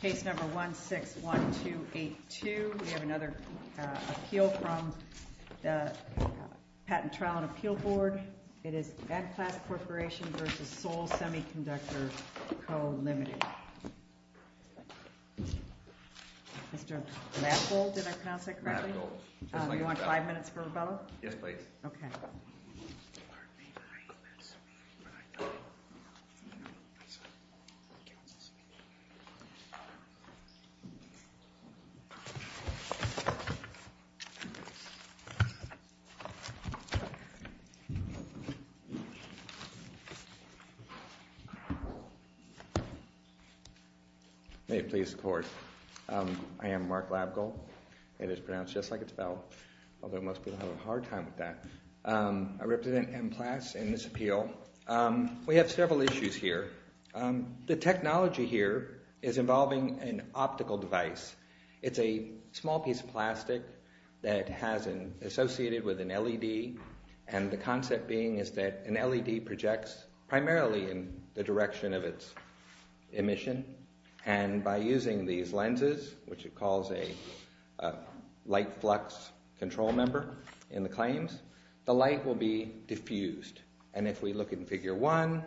Case number 161282, we have another appeal from the Patent Trial and Appeal Board. It is Enplas Corporation v. Seoul Semiconductor Co., Ltd. Mr. Labgold, did I pronounce that correctly? Labgold. Do you want five minutes for rebuttal? Yes, please. Okay. May it please the Court, I am Mark Labgold. It is pronounced just like it's spelled, although most people have a hard time with that. I represent Enplas in this appeal. We have several issues here. The technology here is involving an optical device. It's a small piece of plastic that has been associated with an LED, and the concept being is that an LED projects primarily in the direction of its emission, and by using these lenses, which it calls a light flux control member in the claims, the light will be diffused. And if we look in Figure 1,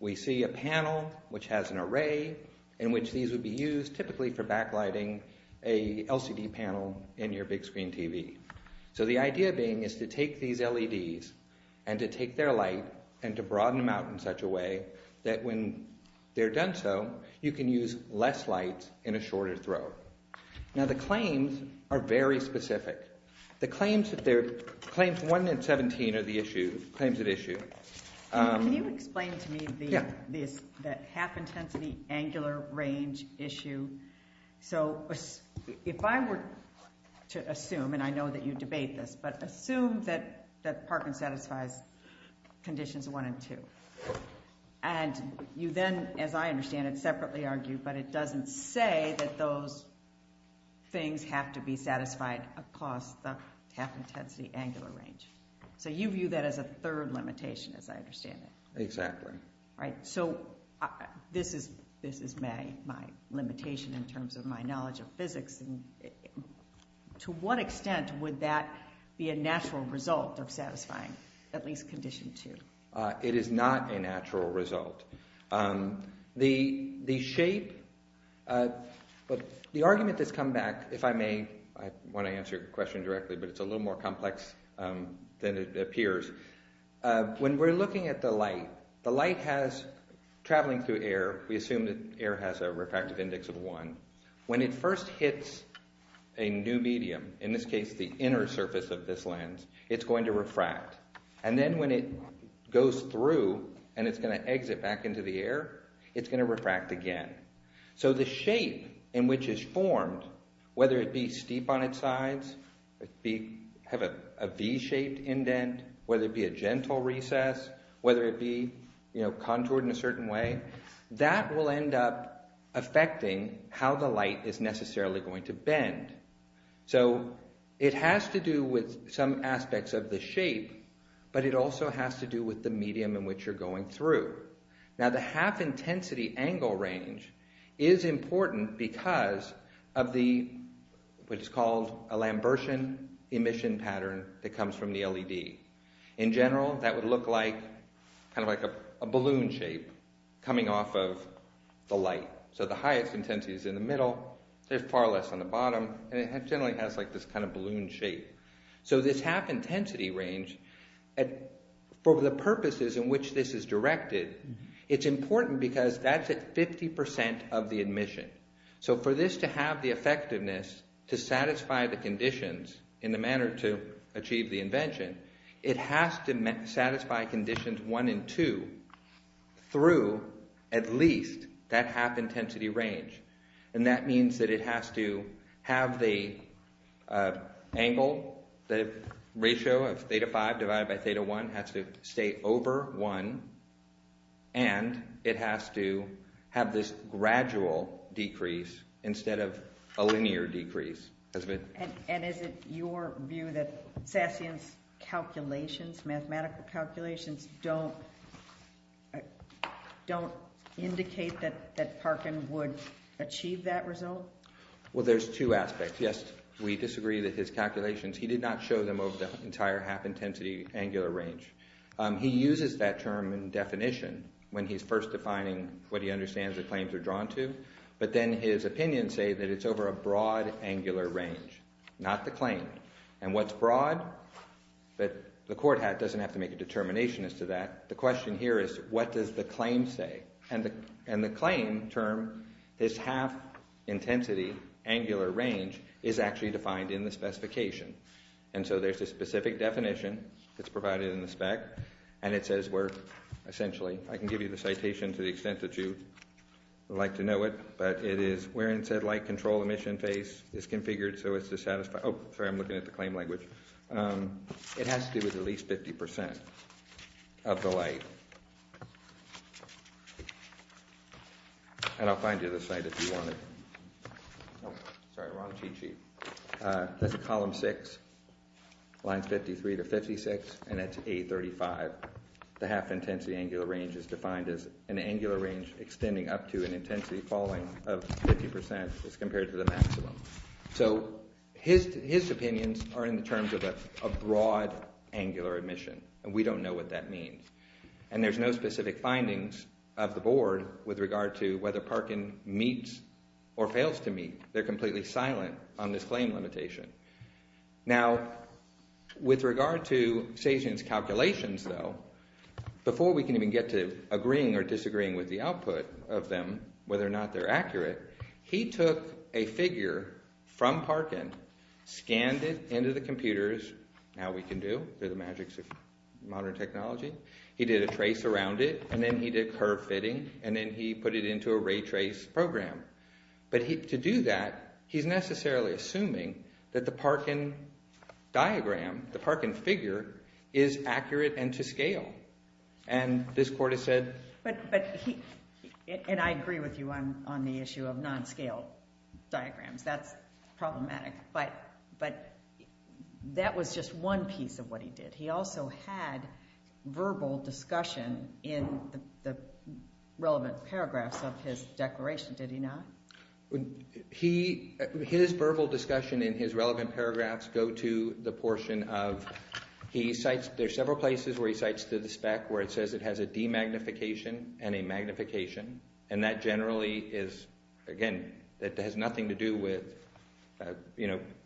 we see a panel which has an array in which these would be used, typically for backlighting a LCD panel in your big screen TV. So the idea being is to take these LEDs and to take their light and to broaden them out in such a way that when they're done so, you can use less light in a shorter throw. Now, the claims are very specific. The claims 1 and 17 are the claims at issue. Can you explain to me the half-intensity angular range issue? So if I were to assume, and I know that you debate this, but assume that Parkin satisfies conditions 1 and 2, and you then, as I understand it, separately argue, but it doesn't say that those things have to be satisfied across the half-intensity angular range. So you view that as a third limitation, as I understand it. Exactly. Right, so this is my limitation in terms of my knowledge of physics. To what extent would that be a natural result of satisfying at least condition 2? It is not a natural result. The shape, the argument that's come back, if I may, I want to answer your question directly, but it's a little more complex than it appears. When we're looking at the light, the light has, traveling through air, we assume that air has a refractive index of 1. When it first hits a new medium, in this case the inner surface of this lens, it's going to refract. And then when it goes through and it's going to exit back into the air, it's going to refract again. So the shape in which it's formed, whether it be steep on its sides, have a V-shaped indent, whether it be a gentle recess, whether it be contoured in a certain way, that will end up affecting how the light is necessarily going to bend. So it has to do with some aspects of the shape, but it also has to do with the medium in which you're going through. Now the half-intensity angle range is important because of the, what is called a Lambertian emission pattern that comes from the LED. In general, that would look like, kind of like a balloon shape coming off of the light. So the highest intensity is in the middle, there's far less on the bottom, and it generally has this kind of balloon shape. So this half-intensity range, for the purposes in which this is directed, it's important because that's at 50% of the emission. So for this to have the effectiveness to satisfy the conditions in the manner to achieve the invention, it has to satisfy conditions 1 and 2 through at least that half-intensity range. And that means that it has to have the angle, the ratio of theta 5 divided by theta 1 has to stay over 1, and it has to have this gradual decrease instead of a linear decrease. And is it your view that Sassian's calculations, mathematical calculations, don't indicate that Parkin would achieve that result? Well, there's two aspects. Yes, we disagree that his calculations, he did not show them over the entire half-intensity angular range. He uses that term in definition when he's first defining what he understands the claims are drawn to, but then his opinions say that it's over a broad angular range, not the claim. And what's broad? The court doesn't have to make a determination as to that. The question here is what does the claim say? And the claim term, this half-intensity angular range, is actually defined in the specification. And so there's a specific definition that's provided in the spec, and it says we're essentially, I can give you the citation to the extent that you would like to know it, but it is where in said light control emission phase is configured so as to satisfy, oh, sorry, I'm looking at the claim language. It has to do with at least 50% of the light. And I'll find you the site if you want it. Sorry, wrong cheat sheet. That's column 6, lines 53 to 56, and that's A35, where the half-intensity angular range is defined as an angular range extending up to an intensity falling of 50% as compared to the maximum. So his opinions are in terms of a broad angular emission, and we don't know what that means. And there's no specific findings of the board with regard to whether Parkin meets or fails to meet. They're completely silent on this claim limitation. Now, with regard to Sajian's calculations, though, before we can even get to agreeing or disagreeing with the output of them, whether or not they're accurate, he took a figure from Parkin, scanned it into the computers. Now we can do. They're the magics of modern technology. He did a trace around it, and then he did curve fitting, and then he put it into a ray trace program. But to do that, he's necessarily assuming that the Parkin diagram, the Parkin figure, is accurate and to scale. And this court has said... But he... And I agree with you on the issue of non-scale diagrams. That's problematic. But that was just one piece of what he did. He also had verbal discussion in the relevant paragraphs of his declaration, did he not? His verbal discussion in his relevant paragraphs go to the portion of he cites... There are several places where he cites the spec where it says it has a demagnification and a magnification. And that generally is, again, it has nothing to do with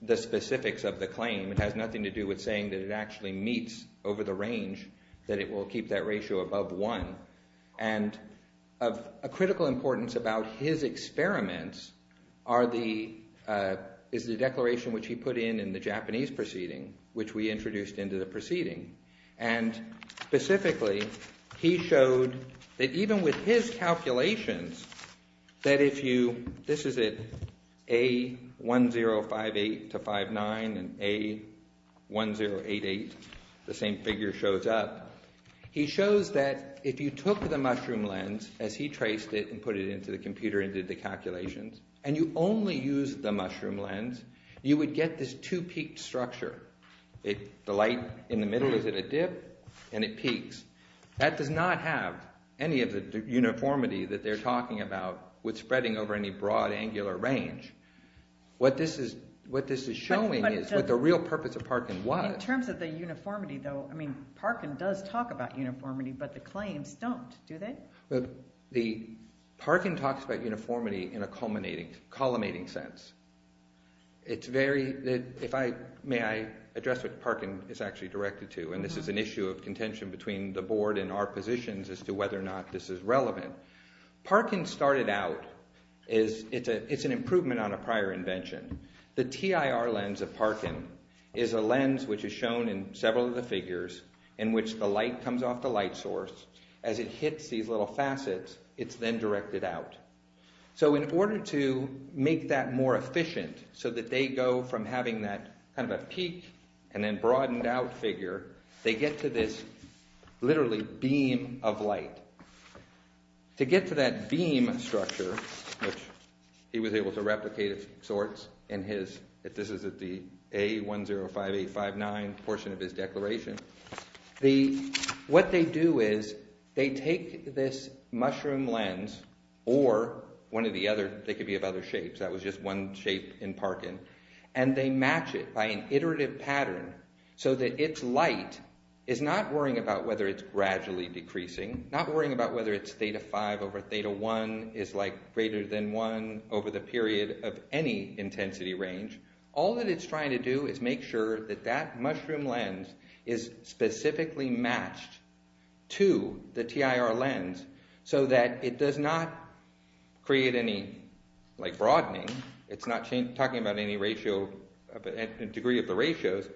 the specifics of the claim. It has nothing to do with saying that it actually meets over the range, that it will keep that ratio above 1. And of critical importance about his experiments is the declaration which he put in in the Japanese proceeding, which we introduced into the proceeding. And specifically, he showed that even with his calculations, that if you... This is it, A1058-59 and A1088, the same figure shows up. He shows that if you took the mushroom lens, as he traced it and put it into the computer and did the calculations, and you only use the mushroom lens, you would get this two-peaked structure. The light in the middle is at a dip, and it peaks. That does not have any of the uniformity that they're talking about with spreading over any broad angular range. What this is showing is what the real purpose of Parkin was. In terms of the uniformity, though, I mean, Parkin does talk about uniformity, but the claims don't, do they? Parkin talks about uniformity in a culminating sense. It's very... May I address what Parkin is actually directed to? And this is an issue of contention between the board and our positions as to whether or not this is relevant. Parkin started out as... It's an improvement on a prior invention. The TIR lens of Parkin is a lens which is shown in several of the figures in which the light comes off the light source. As it hits these little facets, it's then directed out. So in order to make that more efficient so that they go from having that kind of a peak and then broadened-out figure, they get to this literally beam of light. To get to that beam structure, which he was able to replicate of sorts in his... This is at the A105859 portion of his declaration. What they do is they take this mushroom lens or one of the other... They could be of other shapes. That was just one shape in Parkin. And they match it by an iterative pattern so that its light is not worrying about whether it's gradually decreasing, not worrying about whether it's Theta 5 over Theta 1 is greater than 1 over the period of any intensity range. All that it's trying to do is make sure that that mushroom lens is specifically matched to the TIR lens so that it does not create any broadening. It's not talking about any degree of the ratios.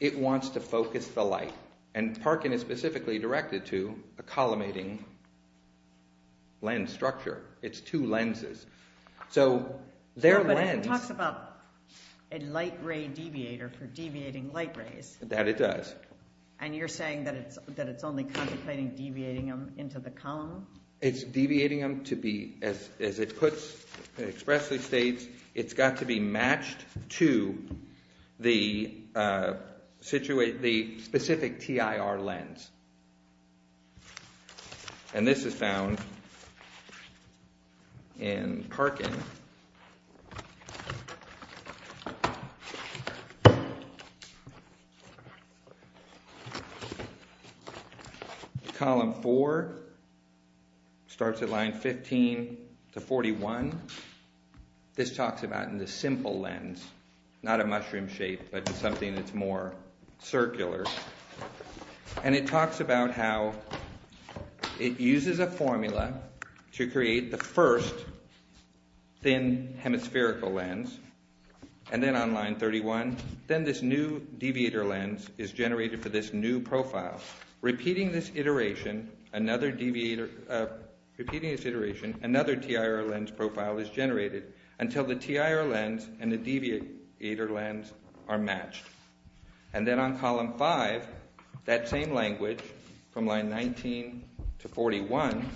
It wants to focus the light. And Parkin is specifically directed to a collimating lens structure. It's two lenses. So their lens... But it talks about a light-ray deviator for deviating light rays. That it does. And you're saying that it's only contemplating deviating them into the column? It's deviating them to be, as it puts... It expressly states it's got to be matched to the specific TIR lens. And this is found in Parkin. Column 4 starts at line 15 to 41. This talks about the simple lens. Not a mushroom shape, but something that's more circular. And it talks about how it uses a formula to create the first thin hemispherical lens. And then on line 31, then this new deviator lens is generated for this new profile. Repeating this iteration, another deviator... Until the TIR lens and the deviator lens are matched. And then on column 5, that same language, from line 19 to 41,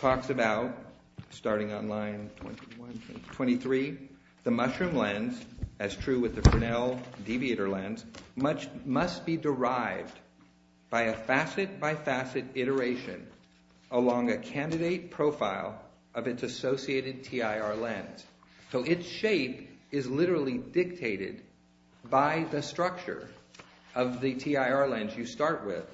talks about, starting on line 23, the mushroom lens, as true with the Fresnel deviator lens, must be derived by a facet-by-facet iteration along a candidate profile of its associated TIR lens. So its shape is literally dictated by the structure of the TIR lens you start with.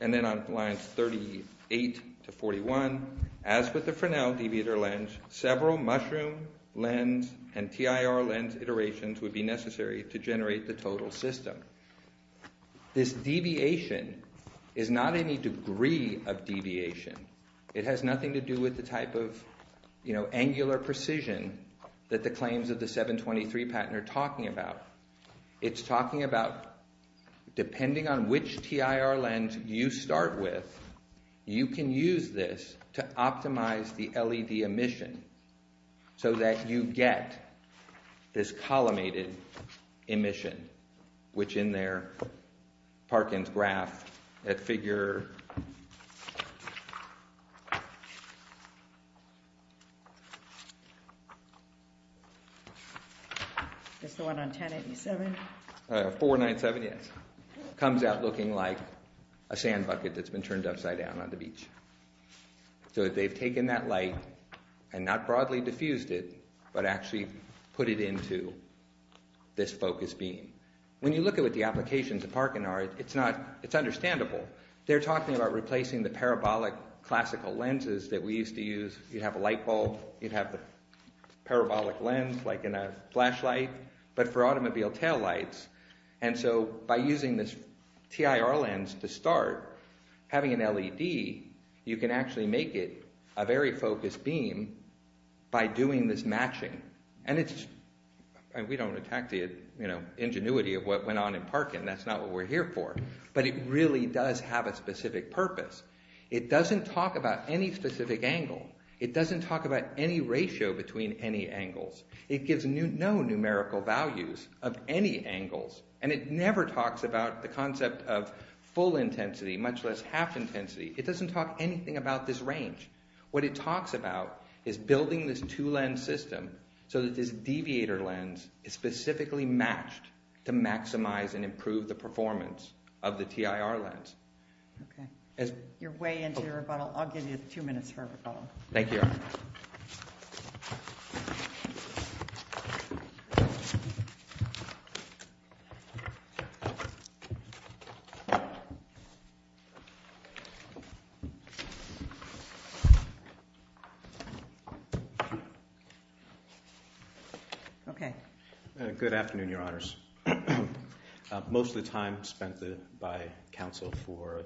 And then on lines 38 to 41, as with the Fresnel deviator lens, several mushroom lens and TIR lens iterations would be necessary to generate the total system. This deviation is not any degree of deviation. It has nothing to do with the type of angular precision that the claims of the 723 patent are talking about. It's talking about, depending on which TIR lens you start with, you can use this to optimize the LED emission so that you get this collimated emission, which in their Parkins graph, that figure... That's the one on 1087? 497, yes. Comes out looking like a sandbucket that's been turned upside down on the beach. So they've taken that light, and not broadly diffused it, but actually put it into this focus beam. When you look at what the applications of Parkin are, it's understandable. They're talking about replacing the parabolic classical lenses that we used to use. You'd have a light bulb. You'd have the parabolic lens, like in a flashlight, but for automobile taillights. And so by using this TIR lens to start, having an LED, you can actually make it a very focused beam by doing this matching. And we don't attack the ingenuity of what went on in Parkin. That's not what we're here for. But it really does have a specific purpose. It doesn't talk about any specific angle. It doesn't talk about any ratio between any angles. It gives no numerical values of any angles. And it never talks about the concept of full intensity, much less half intensity. It doesn't talk anything about this range. What it talks about is building this two lens system so that this deviator lens is specifically matched to maximize and improve the performance of the TIR lens. Okay. You're way into your rebuttal. I'll give you two minutes for a rebuttal. Thank you. Okay. Good afternoon, Your Honors. Most of the time spent by counsel for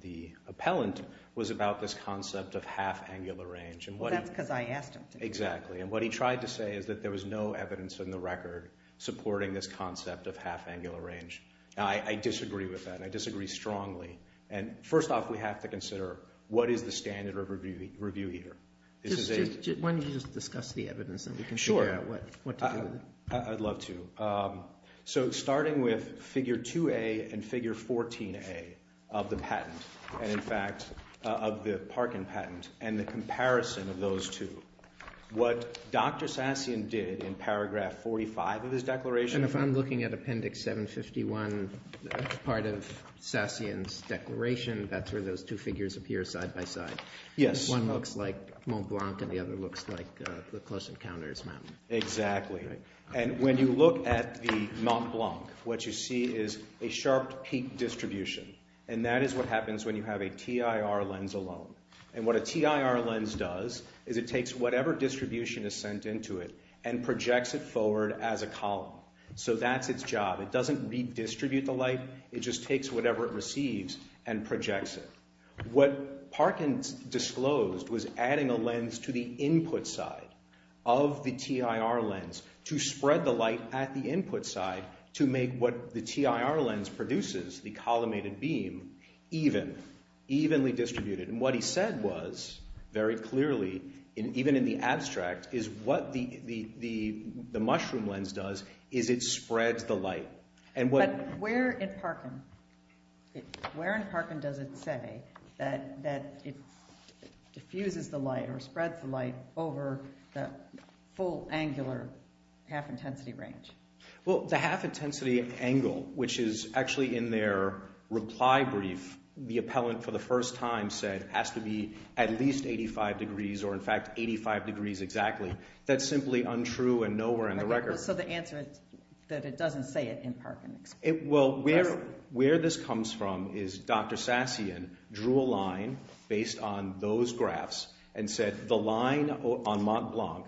the appellant was about this concept of half angular range. Well, that's because I asked him to. Exactly. And what he tried to say is that there was no evidence in the record supporting this concept of half angular range. Now, I disagree with that, and I disagree strongly. And first off, we have to consider what is the standard of review here? Why don't you just discuss the evidence and we can figure out what to do with it. Sure. I'd love to. So starting with figure 2A and figure 14A of the patent, and in fact of the Parkin patent, and the comparison of those two, what Dr. Sassion did in paragraph 45 of his declaration... And if I'm looking at appendix 751, part of Sassion's declaration, that's where those two figures appear side by side. Yes. One looks like Mont Blanc and the other looks like the Close Encounters mountain. Exactly. And when you look at the Mont Blanc, what you see is a sharp peak distribution, and that is what happens when you have a TIR lens alone. And what a TIR lens does is it takes whatever distribution is sent into it and projects it forward as a column. So that's its job. It doesn't redistribute the light. It just takes whatever it receives and projects it. What Parkin disclosed was adding a lens to the input side of the TIR lens to spread the light at the input side to make what the TIR lens produces, the collimated beam, even. Evenly distributed. And what he said was, very clearly, even in the abstract, is what the mushroom lens does is it spreads the light. But where in Parkin does it say that it diffuses the light or spreads the light over the full angular half-intensity range? Well, the half-intensity angle, which is actually in their reply brief, the appellant for the first time said has to be at least 85 degrees, or in fact, 85 degrees exactly. That's simply untrue and nowhere in the record. So the answer is that it doesn't say it in Parkin. Well, where this comes from is Dr. Sassian drew a line based on those graphs and said the line on Mont Blanc,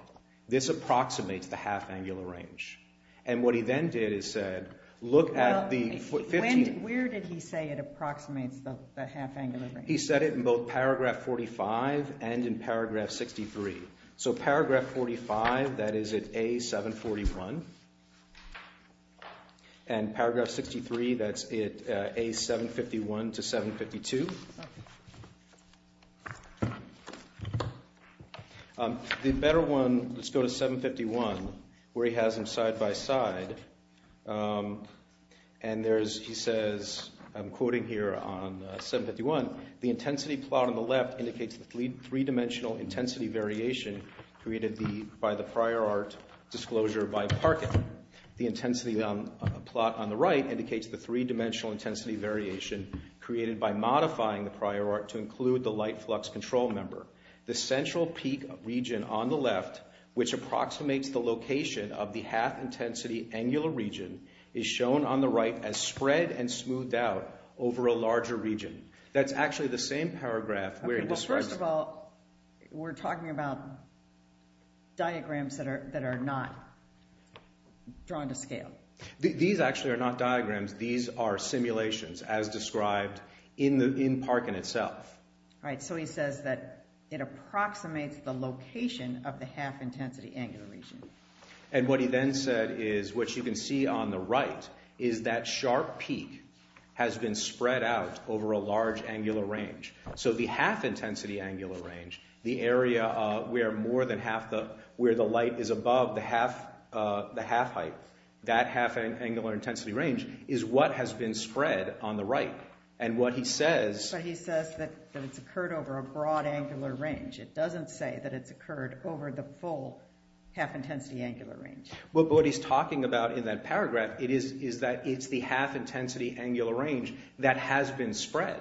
this approximates the half-angular range. And what he then did is said, look at the 15... Where did he say it approximates the half-angular range? He said it in both paragraph 45 and in paragraph 63. So paragraph 45, that is at A741. And paragraph 63, that's at A751 to 752. The better one, let's go to 751, where he has them side by side. And he says, I'm quoting here on 751, the intensity plot on the left indicates the three-dimensional intensity variation created by the prior art disclosure by Parkin. The intensity plot on the right indicates the three-dimensional intensity variation created by modifying the prior art to include the light flux control member. The central peak region on the left, which approximates the location of the half-intensity angular region, is shown on the right as spread and smoothed out over a larger region. That's actually the same paragraph where he describes... Okay, well, first of all, we're talking about diagrams that are not drawn to scale. These actually are not diagrams. These are simulations as described in Parkin itself. Right, so he says that it approximates the location of the half-intensity angular region. And what he then said is, what you can see on the right is that sharp peak has been spread out over a large angular range. So the half-intensity angular range, the area where the light is above the half height, that half-angular intensity range is what has been spread on the right. And what he says... But he says that it's occurred over a broad angular range. It doesn't say that it's occurred over the full half-intensity angular range. But what he's talking about in that paragraph is that it's the half-intensity angular range that has been spread.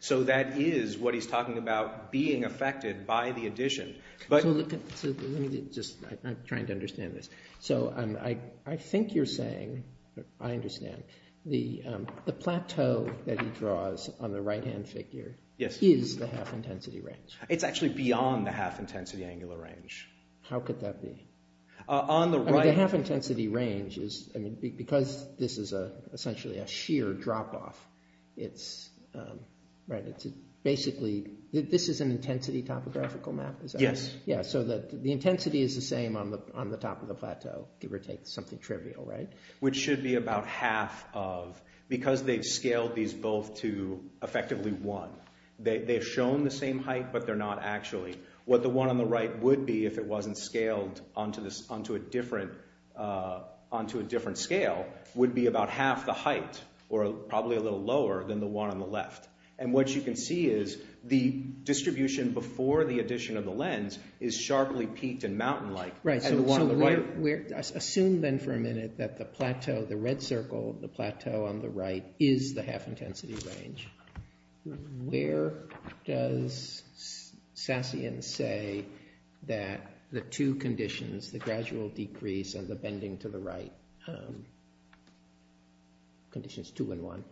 So that is what he's talking about being affected by the addition. So let me just... I'm trying to understand this. So I think you're saying... I understand. The plateau that he draws on the right-hand figure is the half-intensity range. It's actually beyond the half-intensity angular range. How could that be? The half-intensity range is... It's basically... This is an intensity topographical map? Yes. So the intensity is the same on the top of the plateau, give or take, something trivial, right? Which should be about half of... Because they've scaled these both to effectively one. They've shown the same height, but they're not actually. What the one on the right would be if it wasn't scaled onto a different scale would be about half the height, or probably a little lower than the one on the left. And what you can see is the distribution before the addition of the lens is sharply peaked and mountain-like. Right, so assume then for a minute that the plateau, the red circle, the plateau on the right, is the half-intensity range. Where does Sassian say that the two conditions, the gradual decrease and the bending to the right conditions two and one,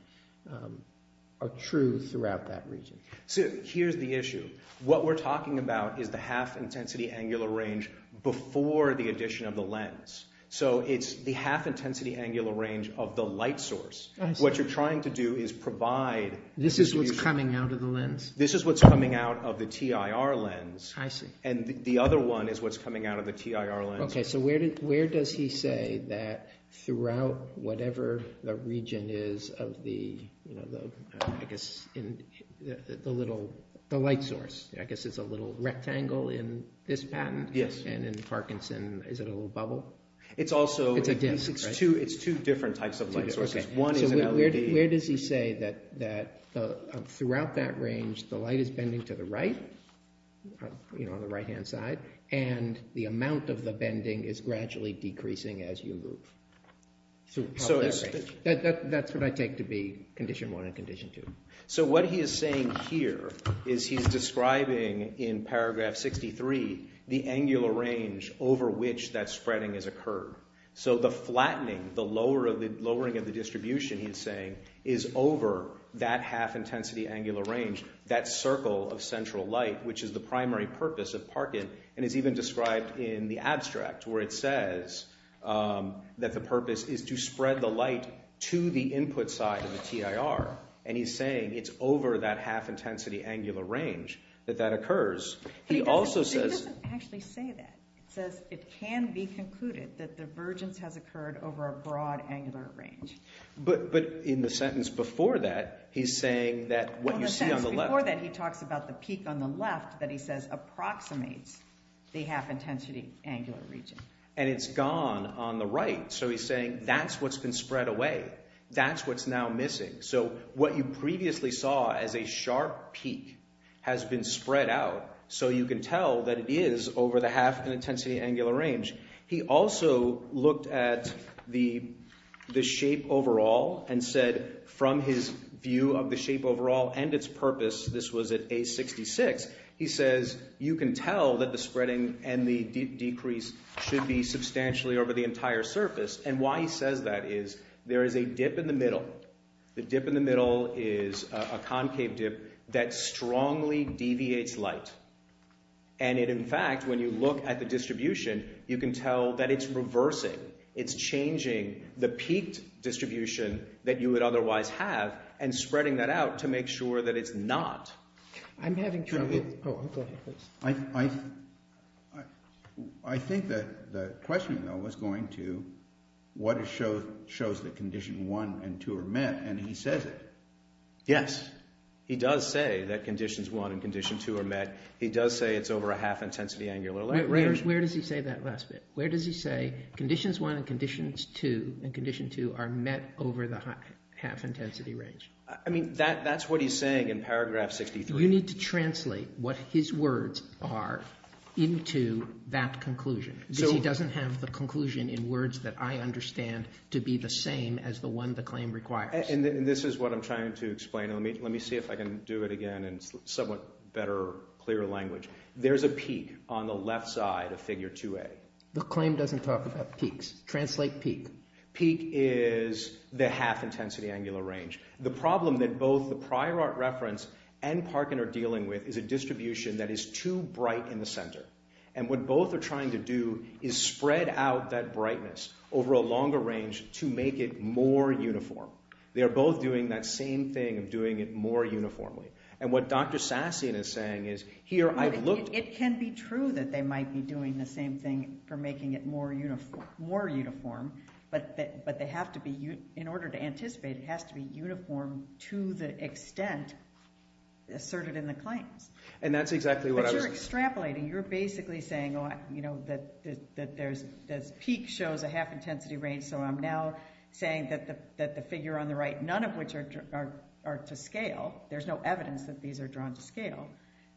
are true throughout that region? So here's the issue. What we're talking about is the half-intensity angular range before the addition of the lens. So it's the half-intensity angular range of the light source. What you're trying to do is provide... This is what's coming out of the lens? This is what's coming out of the TIR lens. I see. And the other one is what's coming out of the TIR lens. Okay, so where does he say that throughout whatever the region is of the, I guess, the little... the light source. I guess it's a little rectangle in this patent. Yes. And in Parkinson, is it a little bubble? It's also... It's a disc, right? It's two different types of light sources. One is an LED. Where does he say that throughout that range the light is bending to the right, you know, on the right-hand side, and the amount of the bending is gradually decreasing as you move? That's what I take to be condition one and condition two. So what he is saying here is he's describing in paragraph 63 the angular range over which that spreading has occurred. So the flattening, the lowering of the distribution, he's saying, is over that half-intensity angular range, that circle of central light, which is the primary purpose of Parkin and is even described in the abstract where it says that the purpose is to spread the light to the input side of the TIR. And he's saying it's over that half-intensity angular range that that occurs. He also says... He doesn't actually say that. He says it can be concluded that divergence has occurred over a broad angular range. But in the sentence before that, he's saying that what you see on the left... Well, in the sentence before that, he talks about the peak on the left that he says approximates the half-intensity angular region. And it's gone on the right. So he's saying that's what's been spread away. That's what's now missing. So what you previously saw as a sharp peak has been spread out, so you can tell that it is over the half-intensity angular range. He also looked at the shape overall and said from his view of the shape overall and its purpose, this was at A66, he says you can tell that the spreading and the decrease should be substantially over the entire surface. And why he says that is there is a dip in the middle. The dip in the middle is a concave dip that strongly deviates light. And in fact, when you look at the distribution, you can tell that it's reversing. It's changing the peaked distribution that you would otherwise have and spreading that out to make sure that it's not. I'm having trouble. I think that the question, though, was going to what shows that condition 1 and 2 are met, and he says it. Yes, he does say that conditions 1 and condition 2 are met. He does say it's over a half-intensity angular range. Where does he say that last bit? Where does he say conditions 1 and conditions 2 are met over the half-intensity range? I mean, that's what he's saying in paragraph 63. You need to translate what his words are into that conclusion, because he doesn't have the conclusion in words that I understand to be the same as the one the claim requires. And this is what I'm trying to explain. Let me see if I can do it again in somewhat better, clearer language. There's a peak on the left side of figure 2A. The claim doesn't talk about peaks. Translate peak. Peak is the half-intensity angular range. The problem that both the prior art reference and Parkin are dealing with is a distribution that is too bright in the center. And what both are trying to do is spread out that brightness over a longer range to make it more uniform. They are both doing that same thing of doing it more uniformly. And what Dr. Sassian is saying is, here, I've looked... It can be true that they might be doing the same thing for making it more uniform, but they have to be... In order to anticipate, it has to be uniform to the extent asserted in the claims. But you're extrapolating. You're basically saying, you know, that this peak shows a half-intensity range, so I'm now saying that the figure on the right, none of which are to scale, there's no evidence that these are drawn to scale,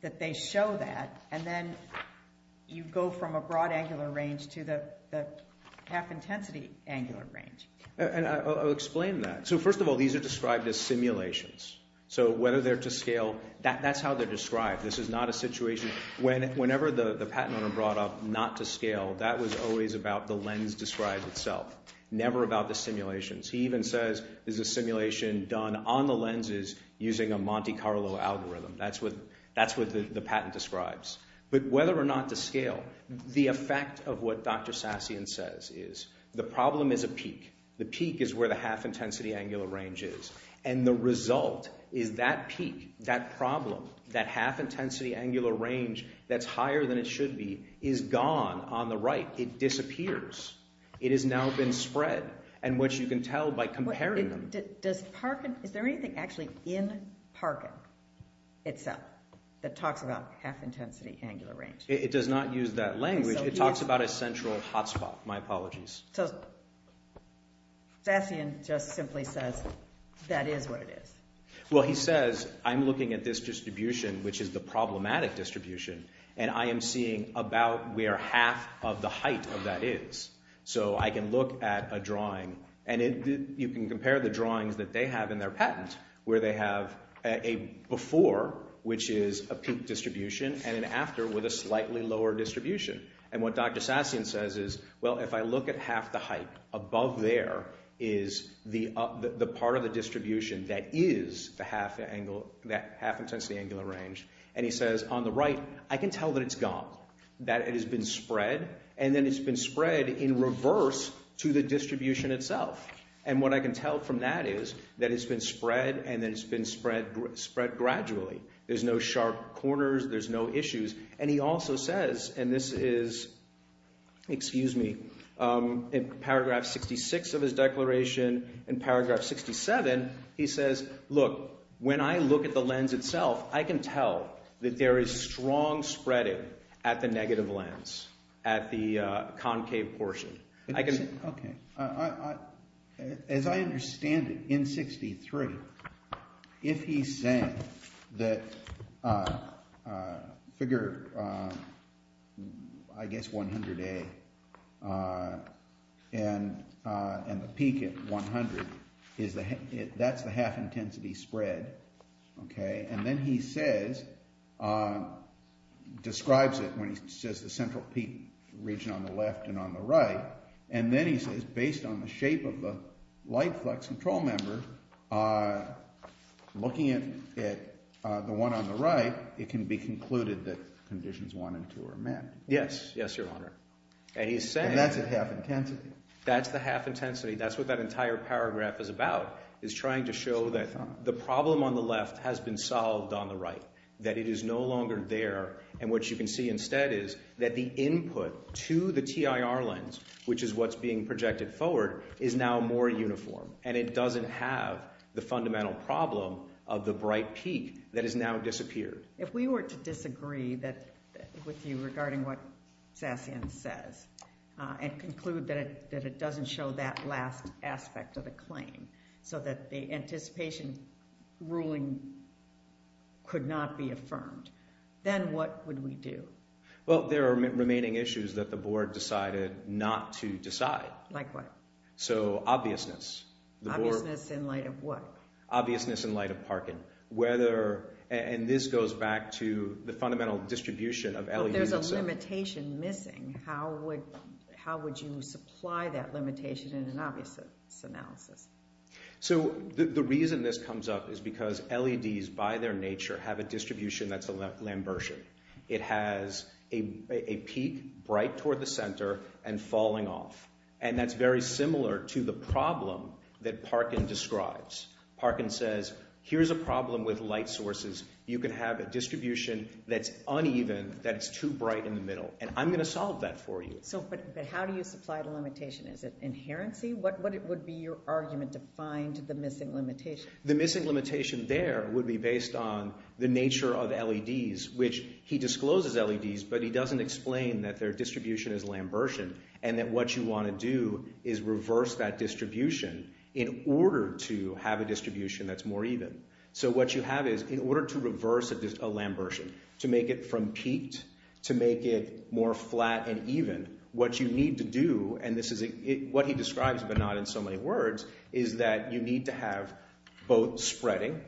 that they show that, and then you go from a broad angular range to the half-intensity angular range. And I'll explain that. So first of all, these are described as simulations. So whether they're to scale, that's how they're described. This is not a situation... Whenever the patent owner brought up not to scale, that was always about the lens described itself, never about the simulations. He even says, there's a simulation done on the lenses using a Monte Carlo algorithm. That's what the patent describes. But whether or not to scale, the effect of what Dr. Sassian says is, the problem is a peak. The peak is where the half-intensity angular range is. And the result is that peak, that problem, that half-intensity angular range that's higher than it should be, is gone on the right. It disappears. It has now been spread, and what you can tell by comparing them... Is there anything actually in Parkin itself that talks about half-intensity angular range? It does not use that language. It talks about a central hotspot. My apologies. So Sassian just simply says, that is what it is. Well, he says, I'm looking at this distribution, which is the problematic distribution, and I am seeing about where half of the height of that is. So I can look at a drawing, and you can compare the drawings that they have in their patent, where they have a before, which is a peak distribution, and an after with a slightly lower distribution. And what Dr. Sassian says is, well, if I look at half the height, above there is the part of the distribution that is the half-intensity angular range. And he says, on the right, I can tell that it's gone. That it has been spread, and then it's been spread in reverse to the distribution itself. And what I can tell from that is, that it's been spread, and then it's been spread gradually. There's no sharp corners. There's no issues. And he also says, and this is, excuse me, in paragraph 66 of his declaration, in paragraph 67, he says, look, when I look at the lens itself, I can tell that there is strong spreading at the negative lens, at the concave portion. As I understand it, in 63, if he's saying that figure, I guess 100A, and the peak at 100, that's the half-intensity spread, and then he says, describes it, when he says the central peak region on the left and on the right, and then he says, based on the shape of the light flux control member, looking at the one on the right, it can be concluded that conditions 1 and 2 are met. Yes, yes, your honor. And that's at half-intensity. That's the half-intensity. That's what that entire paragraph is about, is trying to show that the problem on the left has been solved on the right, that it is no longer there, and what you can see instead is that the input to the TIR lens, which is what's being projected forward, is now more uniform, and it doesn't have the fundamental problem of the bright peak that has now disappeared. If we were to disagree with you regarding what Sassian says, and conclude that it doesn't show that last aspect of the claim, so that the anticipation ruling could not be affirmed, then what would we do? Well, there are remaining issues that the board decided not to decide. Like what? So, obviousness. Obviousness in light of what? Obviousness in light of Parkin. And this goes back to the fundamental distribution of LEDs. But there's a limitation missing. How would you supply that limitation in an obviousness analysis? So, the reason this comes up is because LEDs, by their nature, have a distribution that's a Lambertian. It has a peak bright toward the center and falling off. And that's very similar to the problem that Parkin describes. Parkin says, here's a problem with light sources. You can have a distribution that's uneven, that's too bright in the middle. And I'm going to solve that for you. But how do you supply the limitation? Is it inherency? What would be your argument to find the missing limitation? The missing limitation there would be based on the nature of LEDs, which he discloses LEDs, but he doesn't explain that their distribution is Lambertian. And that what you want to do is reverse that distribution in order to have a distribution that's more even. So, what you have is, in order to reverse a Lambertian, to make it from peaked, to make it more flat and even, what you need to do, and this is what he describes, but not in so many words, is that you need to have both spreading.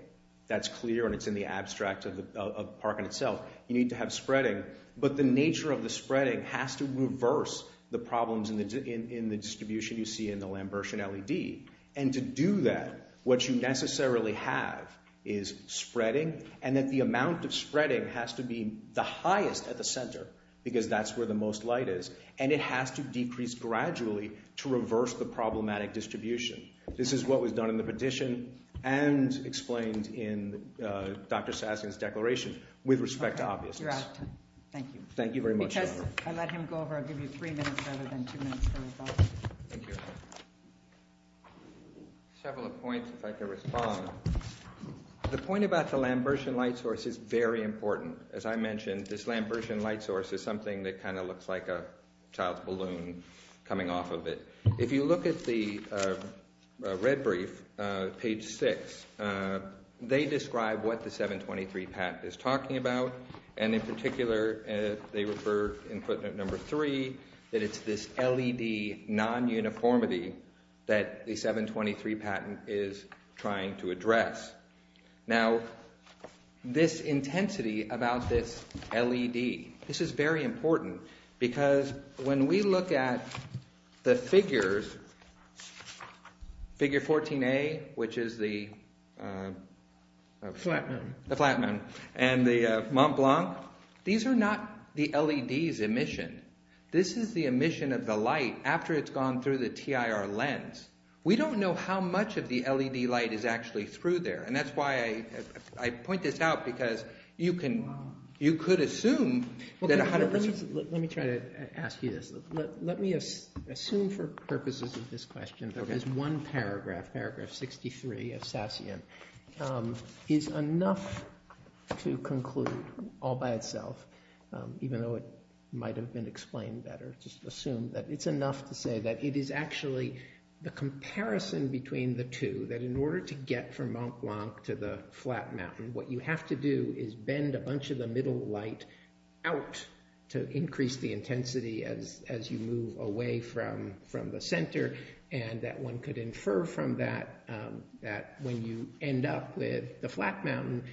That's clear, and it's in the abstract of Parkin itself. You need to have spreading. But the nature of the spreading has to reverse the problems in the distribution you see in the Lambertian LED. And to do that, what you necessarily have is spreading, and that the amount of spreading has to be the highest at the center, because that's where the most light is. And it has to decrease gradually to reverse the problematic distribution. This is what was done in the petition and explained in Dr. Sasson's declaration with respect to obviousness. Thank you very much. I'll give you three minutes, rather than two minutes. Thank you. Several points, if I can respond. The point about the Lambertian light source is very important. As I mentioned, this Lambertian light source is something that kind of looks like a child's balloon coming off of it. If you look at the red brief, page 6, they describe what the 723 pact is talking about, and in particular, they refer in footnote number 3 that it's this LED non-uniformity that the 723 patent is trying to address. Now, this intensity about this LED, this is very important, because when we look at the figures, figure 14A, which is the flat moon, and the Mont Blanc, these are not the LED's emission. This is the emission of the light after it's gone through the TIR lens. We don't know how much of the LED light is actually through there, and that's why I point this out, because you could assume that 100%... Let me try to ask you this. Let me assume for purposes of this question, there is one paragraph, paragraph 63 of Sassion. Is enough to conclude all by itself, even though it might have been explained better, just assume that it's enough to say that it is actually the comparison between the two, that in order to get from Mont Blanc to the flat mountain, what you have to do is bend a bunch of the middle light out to increase the intensity as you move away from the center, and that one could infer from that that when you end up with the flat mountain,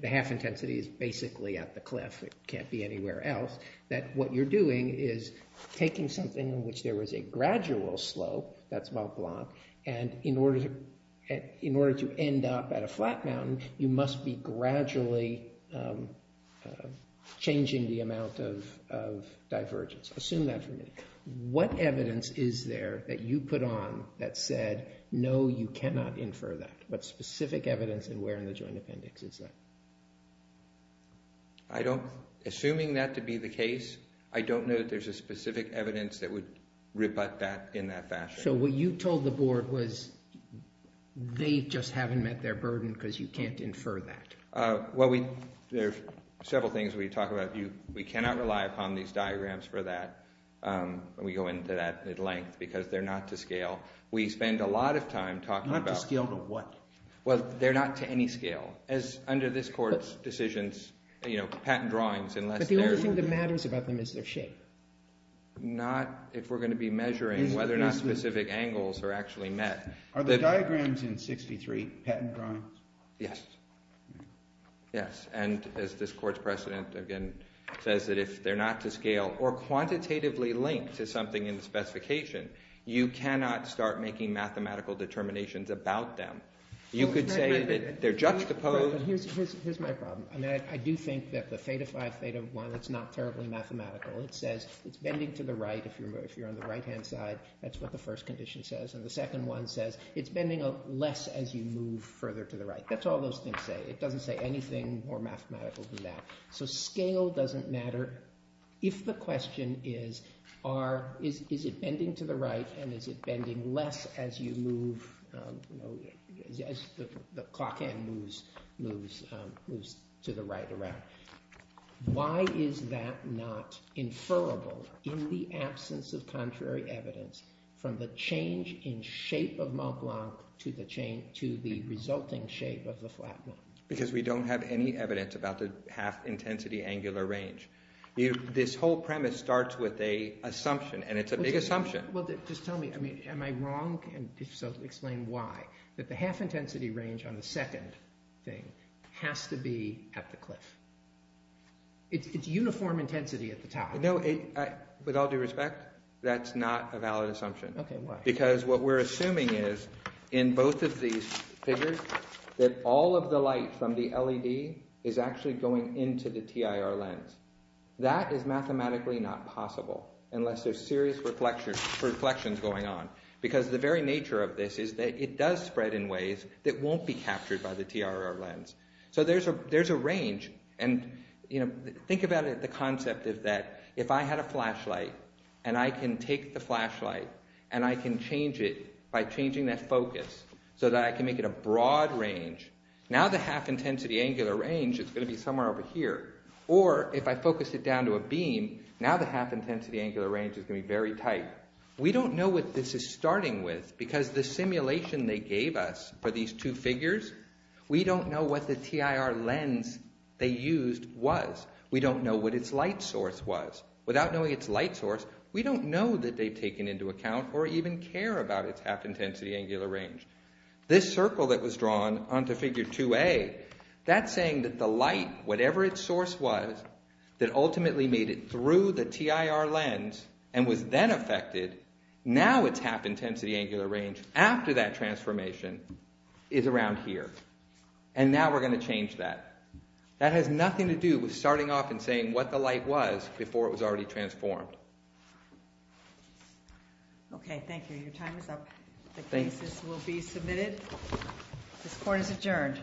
the half intensity is basically at the cliff, it can't be anywhere else, that what you're doing is taking something in which there was a gradual slope, that's Mont Blanc, and in order to end up at a flat mountain, you must be gradually changing the amount of divergence. Assume that for a minute. What evidence is there that you put on that said no, you cannot infer that? What specific evidence and where in the I don't, assuming that to be the case, I don't know that there's a specific evidence that would rebut that in that fashion. So what you told the board was they just haven't met their burden because you can't infer that. Well we, there's several things we talk about. We cannot rely upon these diagrams for that. We go into that at length because they're not to scale. We spend a lot of time talking about... Not to scale to what? Well, they're not to any scale. As under this court's decisions, you know, patent drawings, unless... But the only thing that matters about them is their shape. Not if we're going to be measuring whether or not specific angles are actually met. Are the diagrams in 63 patent drawings? Yes. Yes, and as this court's precedent again says that if they're not to scale or quantitatively linked to something in the specification, you cannot start making mathematical determinations about them. You could say that they're juxtaposed... Here's my problem. I do think that the Theta Phi Theta one, it's not terribly mathematical. It says it's bending to the right if you're on the right-hand side. That's what the first condition says. And the second one says it's bending less as you move further to the right. That's all those things say. It doesn't say anything more mathematical than that. So scale doesn't matter if the question is is it bending to the right and is it bending less as you move... as the clock hand moves to the right around. Why is that not inferable in the absence of contrary evidence from the change in shape of Mont Blanc to the resulting shape of the flat one? Because we don't have any evidence about the half-intensity angular range. This whole premise starts with an assumption, and it's a big assumption. Just tell me, am I wrong? If so, explain why. That the half-intensity range on the second thing has to be at the cliff. It's uniform intensity at the top. No, with all due respect, that's not a valid assumption. Because what we're assuming is in both of these figures that all of the light from the LED is actually going into the TIR lens. That is mathematically not possible unless there's serious reflections going on. Because the very nature of this is that it does spread in ways that won't be captured by the TIR lens. So there's a range, and think about the concept of that. If I had a flashlight, and I can take the flashlight, and I can change it by changing that focus, so that I can make it a broad range, now the half-intensity angular range is going to be somewhere over here. Or, if I focus it down to a beam, now the half-intensity angular range is going to be very tight. We don't know what this is starting with because the simulation they gave us for these two figures, we don't know what the TIR lens they used was. We don't know what its light source was. Without knowing its light source, we don't know that they've taken into account or even care about its half-intensity angular range. This circle that was drawn onto figure 2A, that's saying that the light, whatever its intensity, when we made it through the TIR lens and was then affected, now its half-intensity angular range after that transformation is around here. And now we're going to change that. That has nothing to do with starting off and saying what the light was before it was already transformed. Okay, thank you. Your time is up. The cases will be submitted. This court is adjourned.